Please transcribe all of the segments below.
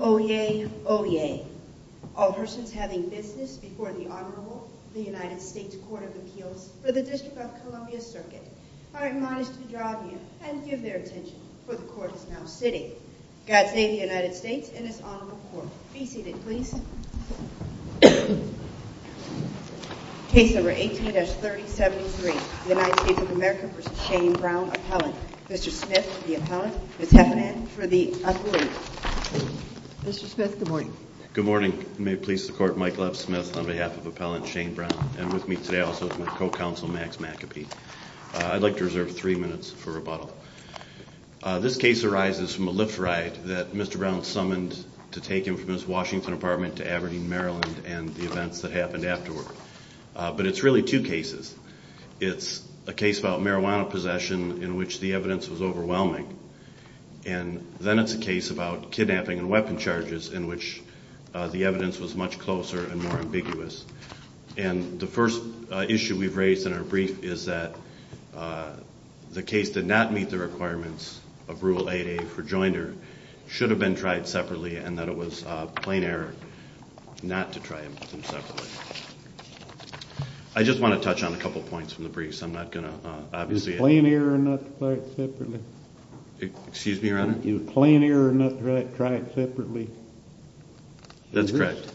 Oyez, oyez, all persons having business before the Honorable United States Court of Appeals for the District of Columbia Circuit are admonished to draw near and give their attention, for the Court is now sitting. God save the United States and its Honorable Court. Be seated, please. Case number 18-3073, United States of America v. Shane Browne Appellant. Mr. Smith, good morning. Good morning. May it please the Court, Mike Lev Smith on behalf of Appellant Shane Browne and with me today also is my co-counsel Max McApee. I'd like to reserve three minutes for rebuttal. This case arises from a Lyft ride that Mr. Browne summoned to take him from his Washington apartment to Aberdeen, Maryland and the events that happened afterward. But it's really two cases. It's a case about marijuana possession in which the evidence was overwhelming. And then it's a case about kidnapping and weapon charges in which the evidence was much closer and more ambiguous. And the first issue we've raised in our brief is that the case did not meet the requirements of Rule 8A for joinder, should have been tried separately and that it was a plain error not to try them separately. I just want to touch on a couple of points from the brief, so I'm not going to obviously explain it. Was it a plain error not to try it separately? Excuse me, Your Honor? A plain error not to try it separately? That's correct.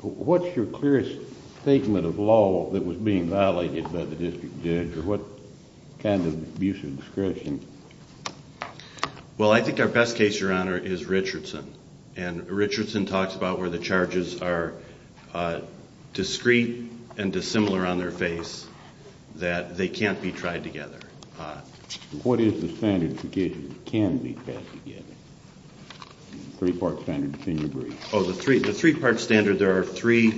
What's your clearest statement of law that was being violated by the district judge or what kind of abusive discretion? Well, I think our best case, Your Honor, is Richardson. And Richardson talks about where the charges are discreet and dissimilar on their face, that they can't be tried together. What is the standard to get it can be tried together? Three-part standard, if you agree. Oh, the three-part standard, there are three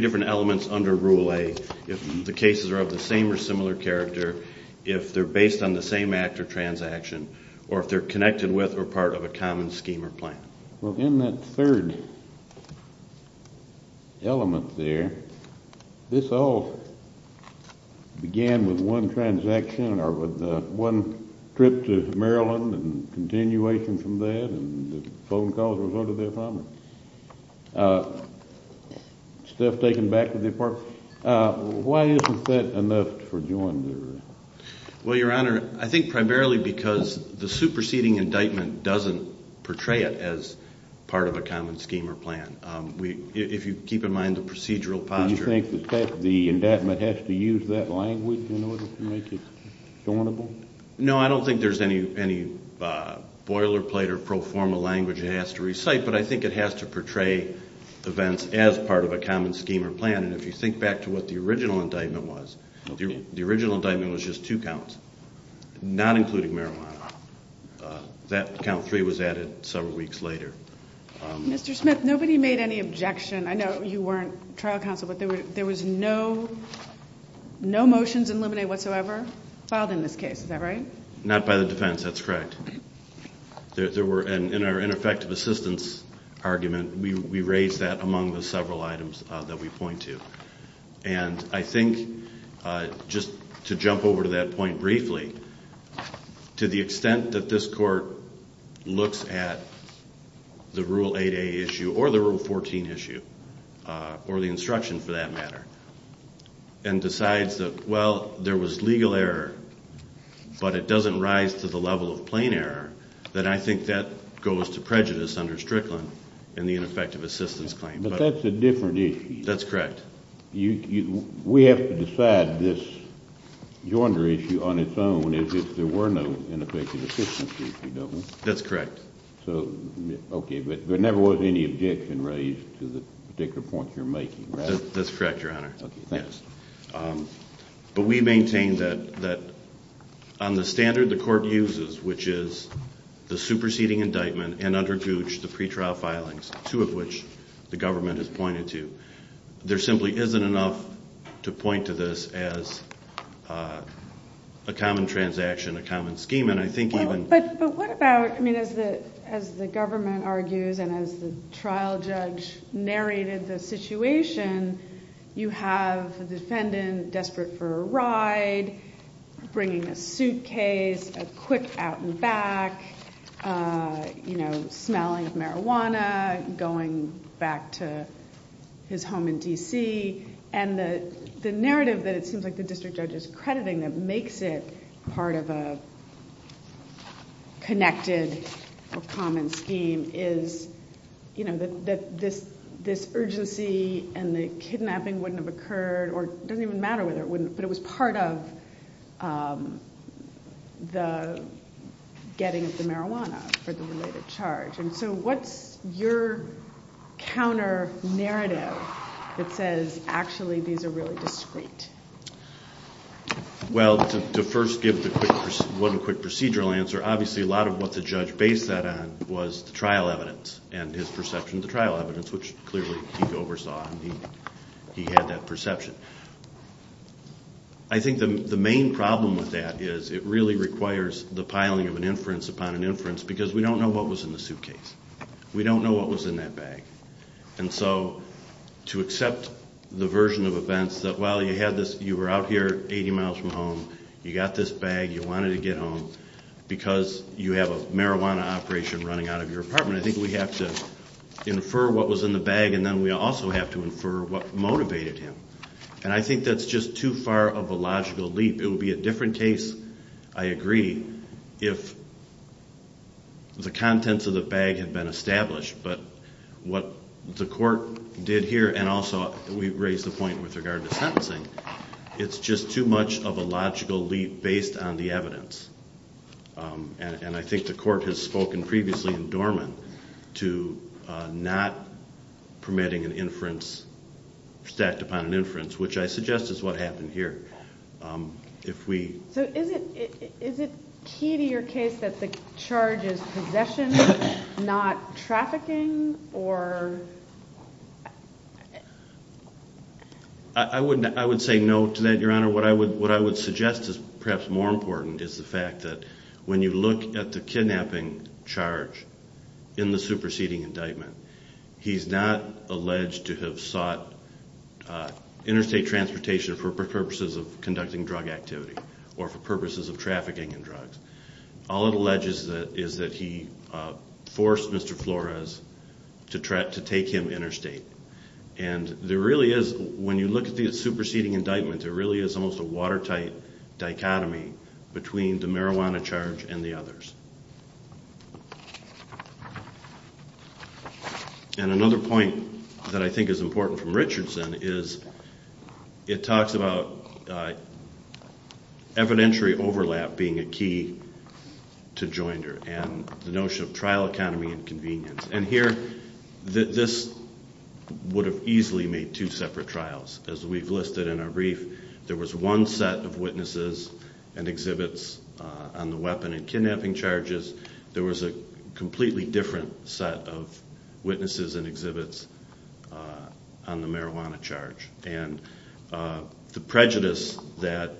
different elements under Rule 8. If the cases are of the same or similar character, if they're based on the same act or transaction, or if they're connected with or part of a common scheme or plan. Well, in that third element there, this all began with one transaction or with one trip to Maryland and continuation from that, and the phone call was under their promise. Stuff taken back to the department. Why isn't that enough for joinery? Well, Your Honor, I think primarily because the superseding indictment doesn't portray it as part of a common scheme or plan. If you keep in mind the procedural posture. Do you think the indictment has to use that language in order to make it joinable? No, I don't think there's any boilerplate or pro forma language it has to recite, but I think it has to portray events as part of a common scheme or plan, and if you think back to what the original indictment was, the original indictment was just two counts, not including marijuana. That count three was added several weeks later. Mr. Smith, nobody made any objection. I know you weren't trial counsel, but there was no motions in Lemonade whatsoever filed in this case, is that right? Not by the defense, that's correct. In our ineffective assistance argument, we raised that among the several items that we point to, and I think just to jump over to that point briefly, to the extent that this Court looks at the Rule 8a issue or the Rule 14 issue, or the instruction for that matter, and decides that, well, there was legal error, but it doesn't rise to the level of plain error, then I think that goes to prejudice under Strickland in the ineffective assistance claim. But that's a different issue. That's correct. We have to decide this yonder issue on its own as if there were no ineffective assistance issue, don't we? That's correct. Okay, but there never was any objection raised to the particular point you're making, right? That's correct, Your Honor. Okay, thanks. But we maintain that on the standard the Court uses, which is the superseding indictment and under Gooch, the pretrial filings, two of which the government has pointed to, there simply isn't enough to point to this as a common transaction, a common scheme, and I think even... But what about, as the government argues and as the trial judge narrated the situation, you have the defendant desperate for a ride, bringing a suitcase, a quick out and back, smelling of marijuana, going back to his home in D.C., and the narrative that it seems like the district judge is crediting that makes it part of a connected or common scheme is that this urgency and the kidnapping wouldn't have occurred, or it doesn't even matter whether it wouldn't, but it was part of the getting of the marijuana for the related charge. And so what's your counter-narrative that says actually these are really discreet? Well, to first give one quick procedural answer, obviously a lot of what the judge based that on was the trial evidence and his perception of the trial evidence, which clearly he oversaw and he had that perception. I think the main problem with that is it really requires the piling of an inference upon an inference, because we don't know what was in the suitcase. We don't know what was in that bag. And so to accept the version of events that, well, you were out here 80 miles from home, you got this bag, you wanted to get home, because you have a marijuana operation running out of your apartment, I think we have to infer what was in the bag and then we also have to infer what motivated him. And I think that's just too far of a logical leap. It would be a different case, I agree, if the contents of the bag had been established, but what the court did here, and also we raised the point with regard to sentencing, it's just too much of a logical leap based on the evidence. And I think the court has spoken previously in Dorman to not permitting an inference, stacked upon an inference, which I suggest is what happened here. So is it key to your case that the charge is possession, not trafficking? I would say no to that, Your Honor. What I would suggest is perhaps more important is the fact that when you look at the kidnapping charge in the superseding indictment, he's not alleged to have sought interstate transportation for purposes of conducting drug activity or for purposes of trafficking in drugs. All it alleges is that he forced Mr. Flores to take him interstate. And there really is, when you look at the superseding indictment, there really is almost a watertight dichotomy between the marijuana charge and the others. And another point that I think is important from Richardson is it talks about evidentiary overlap being a key to Joinder and the notion of trial economy and convenience. And here, this would have easily made two separate trials. As we've listed in our brief, there was one set of witnesses and exhibits on the weapon and kidnapping charges. There was a completely different set of witnesses and exhibits on the marijuana charge. And the prejudice that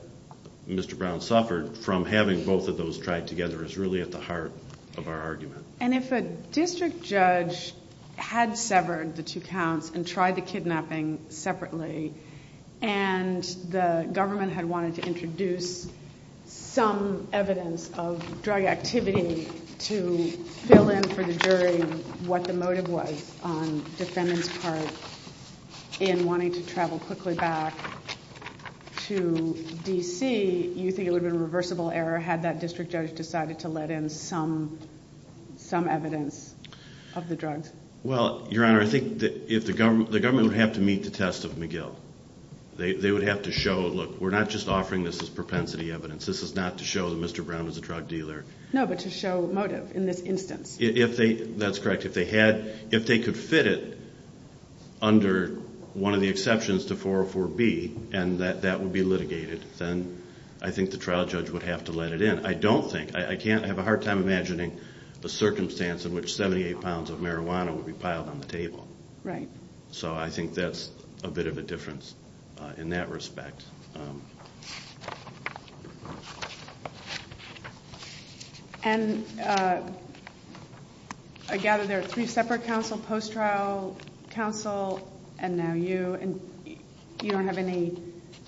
Mr. Brown suffered from having both of those tried together is really at the heart of our case. He had severed the two counts and tried the kidnapping separately. And the government had wanted to introduce some evidence of drug activity to fill in for the jury what the motive was on defendant's part in wanting to travel quickly back to D.C. You think it would have been a reversible error had that district judge decided to let in some evidence of the drugs? Well, Your Honor, I think the government would have to meet the test of McGill. They would have to show, look, we're not just offering this as propensity evidence. This is not to show that Mr. Brown is a drug dealer. No, but to show motive in this instance. That's correct. If they could fit it under one of the exceptions to 404B and that would be litigated, then I think the trial judge would have to let it in. I don't think. I have a hard time imagining a circumstance in which 78 pounds of marijuana would be piled on the table. So I think that's a bit of a difference in that respect. And I gather there are three separate counsel, post-trial counsel, and now you. You don't have any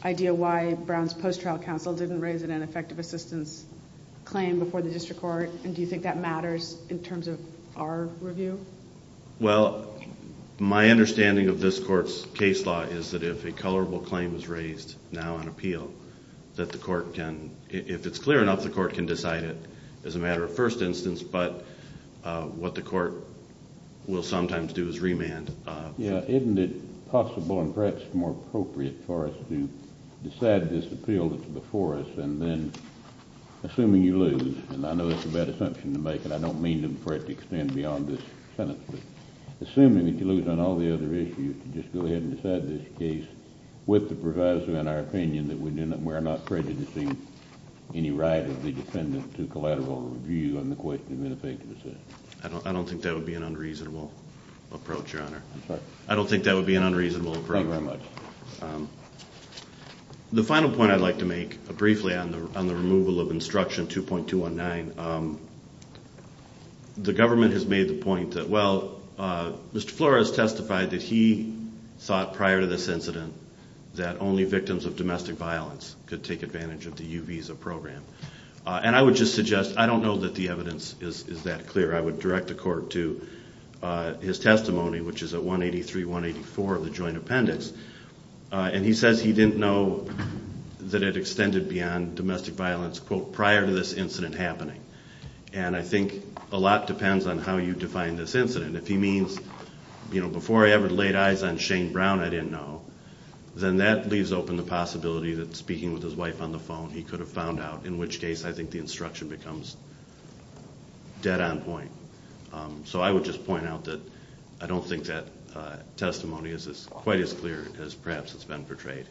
idea why Brown's post-trial counsel didn't raise it in an effective assistance claim before the district court, and do you think that matters in terms of our review? Well, my understanding of this court's case law is that if a colorable claim is raised now on appeal, that the court can, if it's clear enough, the court can decide it as a matter of first instance, but what the court will sometimes do is remand. Yeah, isn't it possible and perhaps more appropriate for us to decide this appeal that's before us and then, assuming you lose, and I know it's a bad assumption to make, and I don't mean for it to extend beyond this sentence, but assuming that you lose on all the other issues, to just go ahead and decide this case with the proviso in our opinion that we're not prejudicing any right of the dependent to collateral review on the question of ineffective assistance? I don't think that would be an The final point I'd like to make, briefly, on the removal of instruction 2.219, the government has made the point that, well, Mr. Flores testified that he thought prior to this incident that only victims of domestic violence could take advantage of the U visa program, and I would just suggest, I don't know that the evidence is that clear. I would direct the he says he didn't know that it extended beyond domestic violence, quote, prior to this incident happening, and I think a lot depends on how you define this incident. If he means, you know, before I ever laid eyes on Shane Brown, I didn't know, then that leaves open the possibility that speaking with his wife on the phone, he could have found out, in which case I think the instruction becomes dead on point. So I would just point out that I don't think that testimony is quite as clear as perhaps it's been portrayed.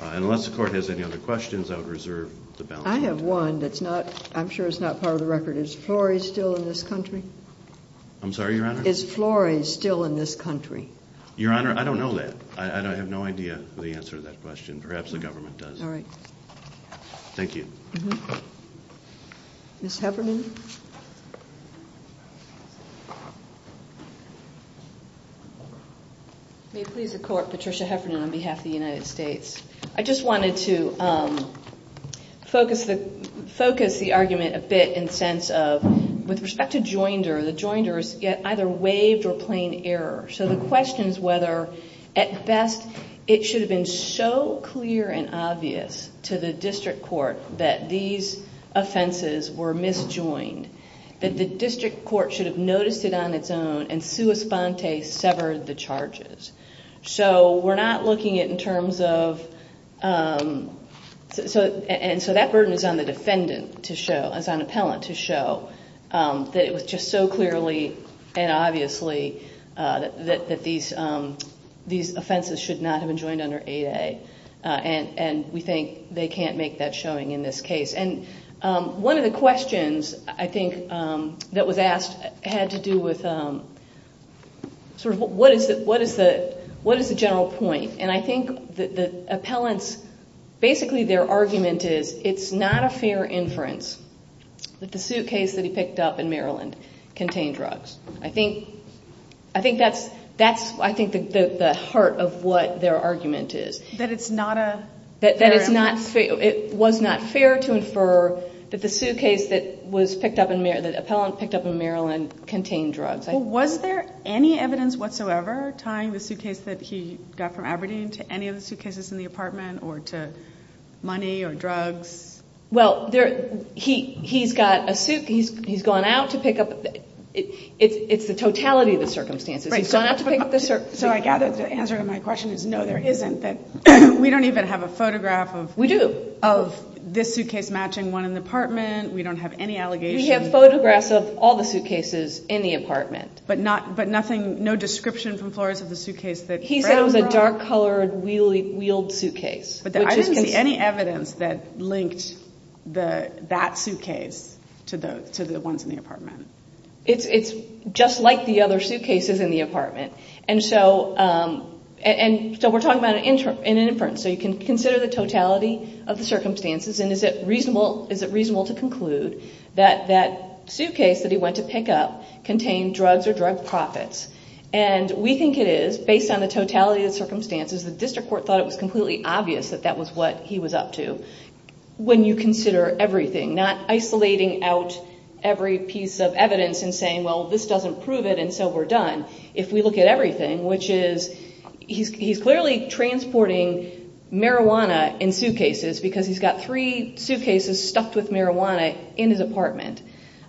Unless the court has any other questions, I would reserve the balance. I have one that's not, I'm sure it's not part of the record. Is Flores still in this country? I'm sorry, Your Honor? Is Flores still in this country? Your Honor, I don't know that. I have no idea the answer to that question. Perhaps the government does. All right. Thank you. Ms. Heffernan? May it please the Court, Patricia Heffernan on behalf of the United States. I just wanted to focus the argument a bit in the sense of, with respect to joinder, the joinder is either waived or plain error. So the question is whether, at best, it should have been so clear and obvious to the district court that these offenses were misjoined, that the district court should have noticed it on its own and sua sponte severed the charges. So we're not looking at in terms of, and so that burden is on the defendant to show, is on appellant to show that it was just so clearly and obviously that these offenses should not have been joined under 8A. And we think they can't make that showing in this case. And one of the questions, I think, that was asked had to do with sort of what is the general point. And I think the appellant's, basically their argument is it's not a fair inference that the suitcase that he picked up in Maryland contained drugs. I think that's, I think the heart of what their argument is. That it's not a fair inference. That it's not fair, it was not fair to infer that the suitcase that was picked up in, that the appellant picked up in Maryland contained drugs. Was there any evidence whatsoever tying the suitcase that he got from Aberdeen to any of the suitcases in the apartment or to money or drugs? Well there, he's got a suit, he's gone out to pick up, it's the totality of the circumstances. So I gather the answer to my question is no there isn't. We don't even have a photograph of We do. this suitcase matching one in the apartment. We don't have any allegation. We have photographs of all the suitcases in the apartment. But nothing, no description from Flores of the suitcase that Brown brought? He said it was a dark colored wheeled suitcase. But I didn't see any evidence that linked that suitcase to the ones in the apartment. It's just like the other suitcases in the apartment. And so we're talking about an inference. So you can consider the totality of the circumstances and is it reasonable to conclude that that suitcase that he went to pick up contained drugs or drug profits. And we think it is, based on the totality of the circumstances, the district court thought it was completely obvious that that was what he was up to. When you consider everything, not isolating out every piece of evidence and saying well this doesn't prove it and so we're done. If we look at everything, which is, he's clearly transporting marijuana in suitcases because he's got three suitcases stuffed with marijuana in his apartment.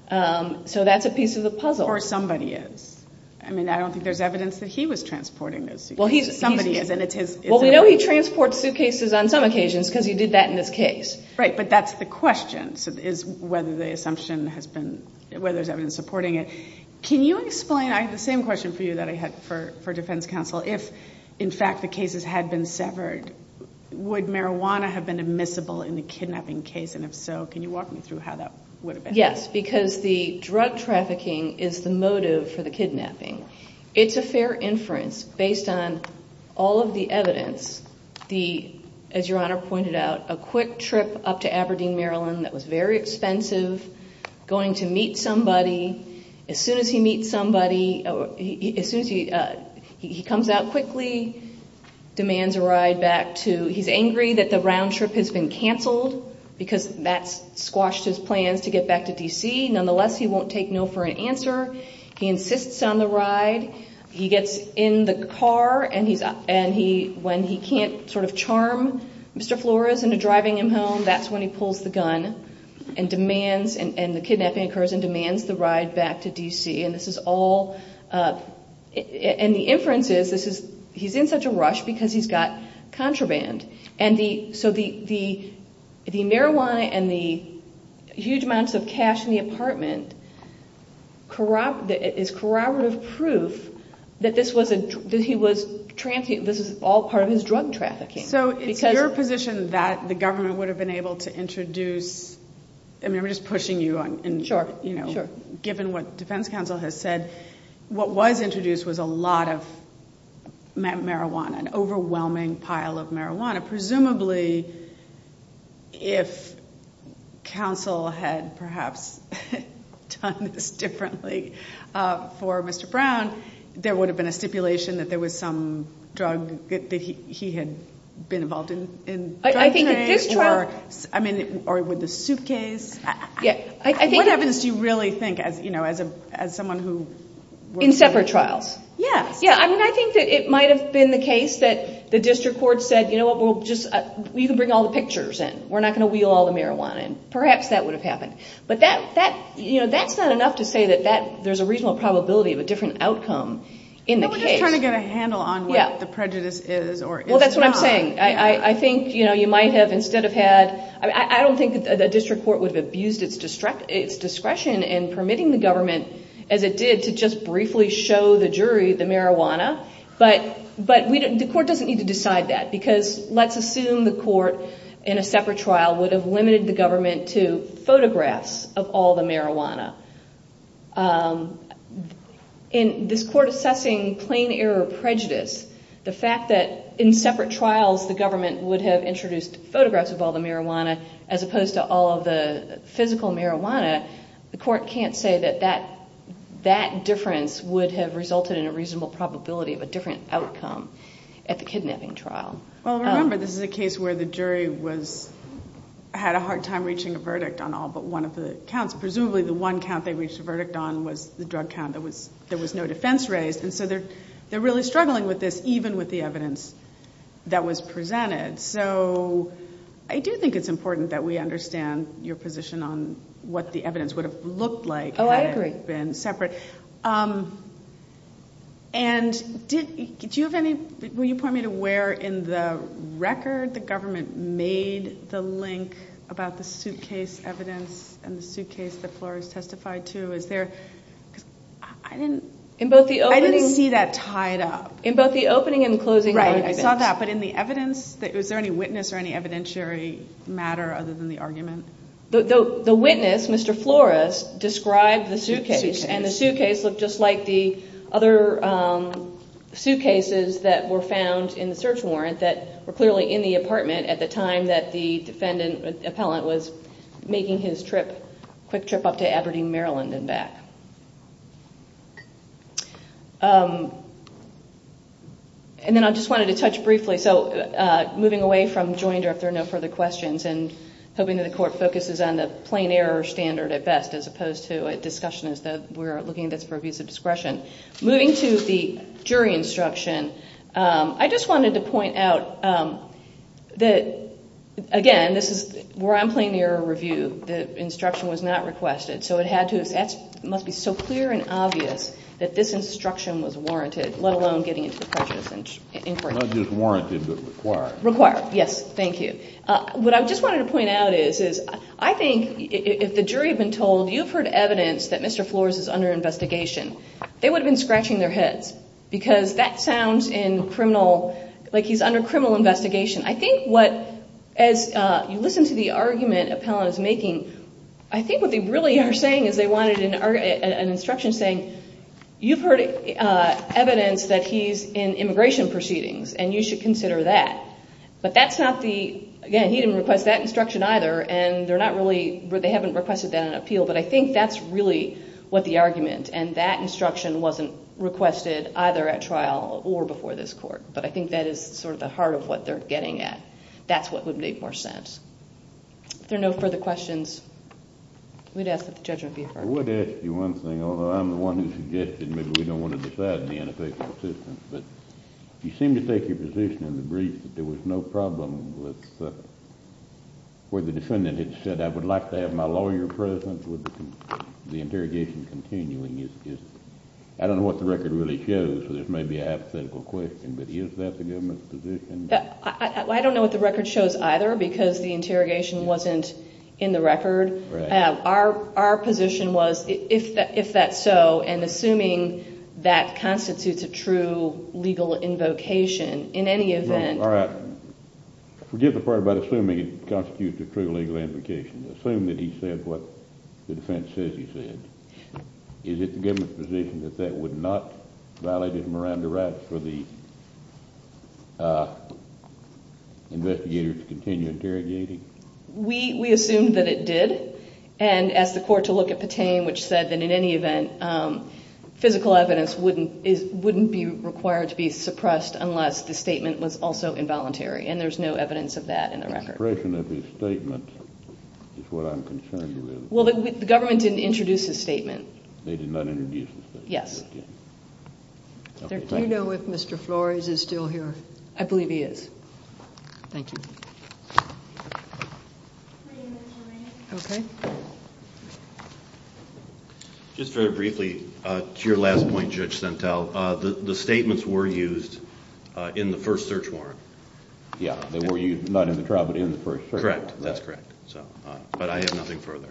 So that's a piece of the puzzle. Or somebody is. I mean, I don't think there's evidence that he was transporting those suitcases. Somebody is and it's his. Well, we know he transports suitcases on some occasions because he did that in this case. Right, but that's the question, is whether the assumption has been, whether there's evidence supporting it. Can you explain, I had the same question for you that I had for defense counsel, if in fact the cases had been severed, would marijuana have been admissible in the kidnapping case and if so, can you walk me through how that would have been? Yes, because the drug trafficking is the motive for the kidnapping. It's a fair inference based on all of the evidence, the, as your honor pointed out, a quick trip up to Aberdeen, Maryland that was very expensive, going to meet somebody. As soon as he meets somebody, as soon as he, he comes out quickly, demands a ride back to, he's angry that the round trip has been canceled because that's squashed his plans to get back to D.C. Nonetheless, he won't take no for an answer. He insists on the ride. He gets in the car and he, when he can't sort of charm Mr. Flores into driving him home, that's when he pulls the gun and demands and the kidnapping occurs and demands the ride back to D.C. And this is all, and the inference is, this is, he's in such a rush because he's got contraband. And the, so the marijuana and the huge amounts of cash in the apartment is corroborative proof that this was a, that he was, this is all part of his drug trafficking. So it's your position that the government would have been able to introduce, I mean I'm just pushing you on, you know, given what defense counsel has said, what was introduced was a lot of marijuana, an overwhelming pile of marijuana. Presumably, if counsel had perhaps done this differently for Mr. Brown, there would have been a stipulation that there was some drug that he had been involved in. I think that this trial, I mean, or with the suitcase, what evidence do you really think as, you know, as a, as someone who. In separate trials. Yes. Yeah, I mean, I think that it might have been the case that the district court said, you know what, we'll just, you can bring all the pictures in. We're not going to wheel all the marijuana in. Perhaps that would have happened. But that, that, you know, that's not enough to say that that, there's a reasonable probability of a different outcome in the case. No, we're just trying to get a handle on what the prejudice is or is not. Well, that's what I'm saying. I think, you know, you might have instead of had, I don't think that the district court would have abused its discretion in permitting the government as it did to just briefly show the jury the marijuana, but, but we didn't, the court doesn't need to decide that because let's assume the court in a separate trial would have limited the government to photographs of all the marijuana. In this court assessing plain error prejudice, the fact that in separate trials, the government would have introduced photographs of all the marijuana as opposed to all of the physical marijuana, the court can't say that that, that difference would have resulted in a reasonable probability of a different outcome at the kidnapping trial. Well, remember, this is a case where the jury was, had a hard time reaching a verdict on all but one of the counts. Presumably the one count they reached a verdict on was the drug count that was, there was no defense raised. And so they're, they're really struggling with this, even with the evidence that was presented. So I do think it's important that we understand your position on what the evidence would have looked like. Oh, I agree. And separate. And did you have any, will you point me to where in the record the government made the link about the suitcase evidence and the suitcase that Flores testified to, is there, I didn't. In both the opening. I didn't see that tied up. In both the opening and closing arguments. Right, I saw that. But in the evidence, was there any witness or any evidentiary matter other than the argument? The witness, Mr. Flores, described the suitcase and the suitcase looked just like the other suitcases that were found in the search warrant that were clearly in the apartment at the time that the defendant, appellant, was making his trip, quick trip up to Aberdeen, Maryland and back. And then I just wanted to touch briefly, so moving away from Joinder if there are no further questions and hoping that the court focuses on the plain error standard at best as opposed to a discussion as though we're looking at this for abuse of discretion. Moving to the jury instruction, I just wanted to point out that, again, this is, we're on plain error review, the instruction was not requested. So it had to, it must be so clear and obvious that this instruction was warranted, let alone getting into the prejudice inquiry. Not just warranted, but required. Required, yes. Thank you. What I just wanted to point out is, I think if the jury had been told, you've heard evidence that Mr. Flores is under investigation, they would have been scratching their heads. Because that sounds in criminal, like he's under criminal investigation. I think what, as you listen to the argument appellant is making, I think what they really are saying is they wanted an instruction saying, you've heard evidence that he's in immigration proceedings and you should consider that. But that's not the, again, he didn't request that instruction either and they're not really, they haven't requested that on appeal, but I think that's really what the argument and that instruction wasn't requested either at trial or before this court. But I think that is sort of the heart of what they're getting at. That's what would make more sense. If there are no further questions, we'd ask that the judge be heard. I would ask you one thing, although I'm the one who suggested maybe we don't want to decide the ineffectual assistance. But you seem to take your position in the brief that there was no problem with, where the defendant had said, I would like to have my lawyer present with the interrogation continuing. I don't know what the record really shows, so this may be a hypothetical question, but is that the government's position? I don't know what the record shows either, because the interrogation wasn't in the record. Our position was, if that's so, and assuming that constitutes a true legal invocation, in any event... All right. Forget the part about assuming it constitutes a true legal invocation. Assume that he said what the defense says he said. Is it the government's position that that would not violate his Miranda rights for the investigators to continue interrogating? We assume that it did, and asked the court to look at Patain, which said that in any event, physical evidence wouldn't be required to be suppressed unless the statement was also involuntary, and there's no evidence of that in the record. The suppression of his statement is what I'm concerned with. Well, the government didn't introduce his statement. They did not introduce his statement. Yes. Do you know if Mr. Flores is still here? I believe he is. Thank you. Just very briefly, to your last point, Judge Sentell, the statements were used in the first search warrant. Yeah, they were used not in the trial, but in the first search warrant. Correct. That's correct. But I have nothing further.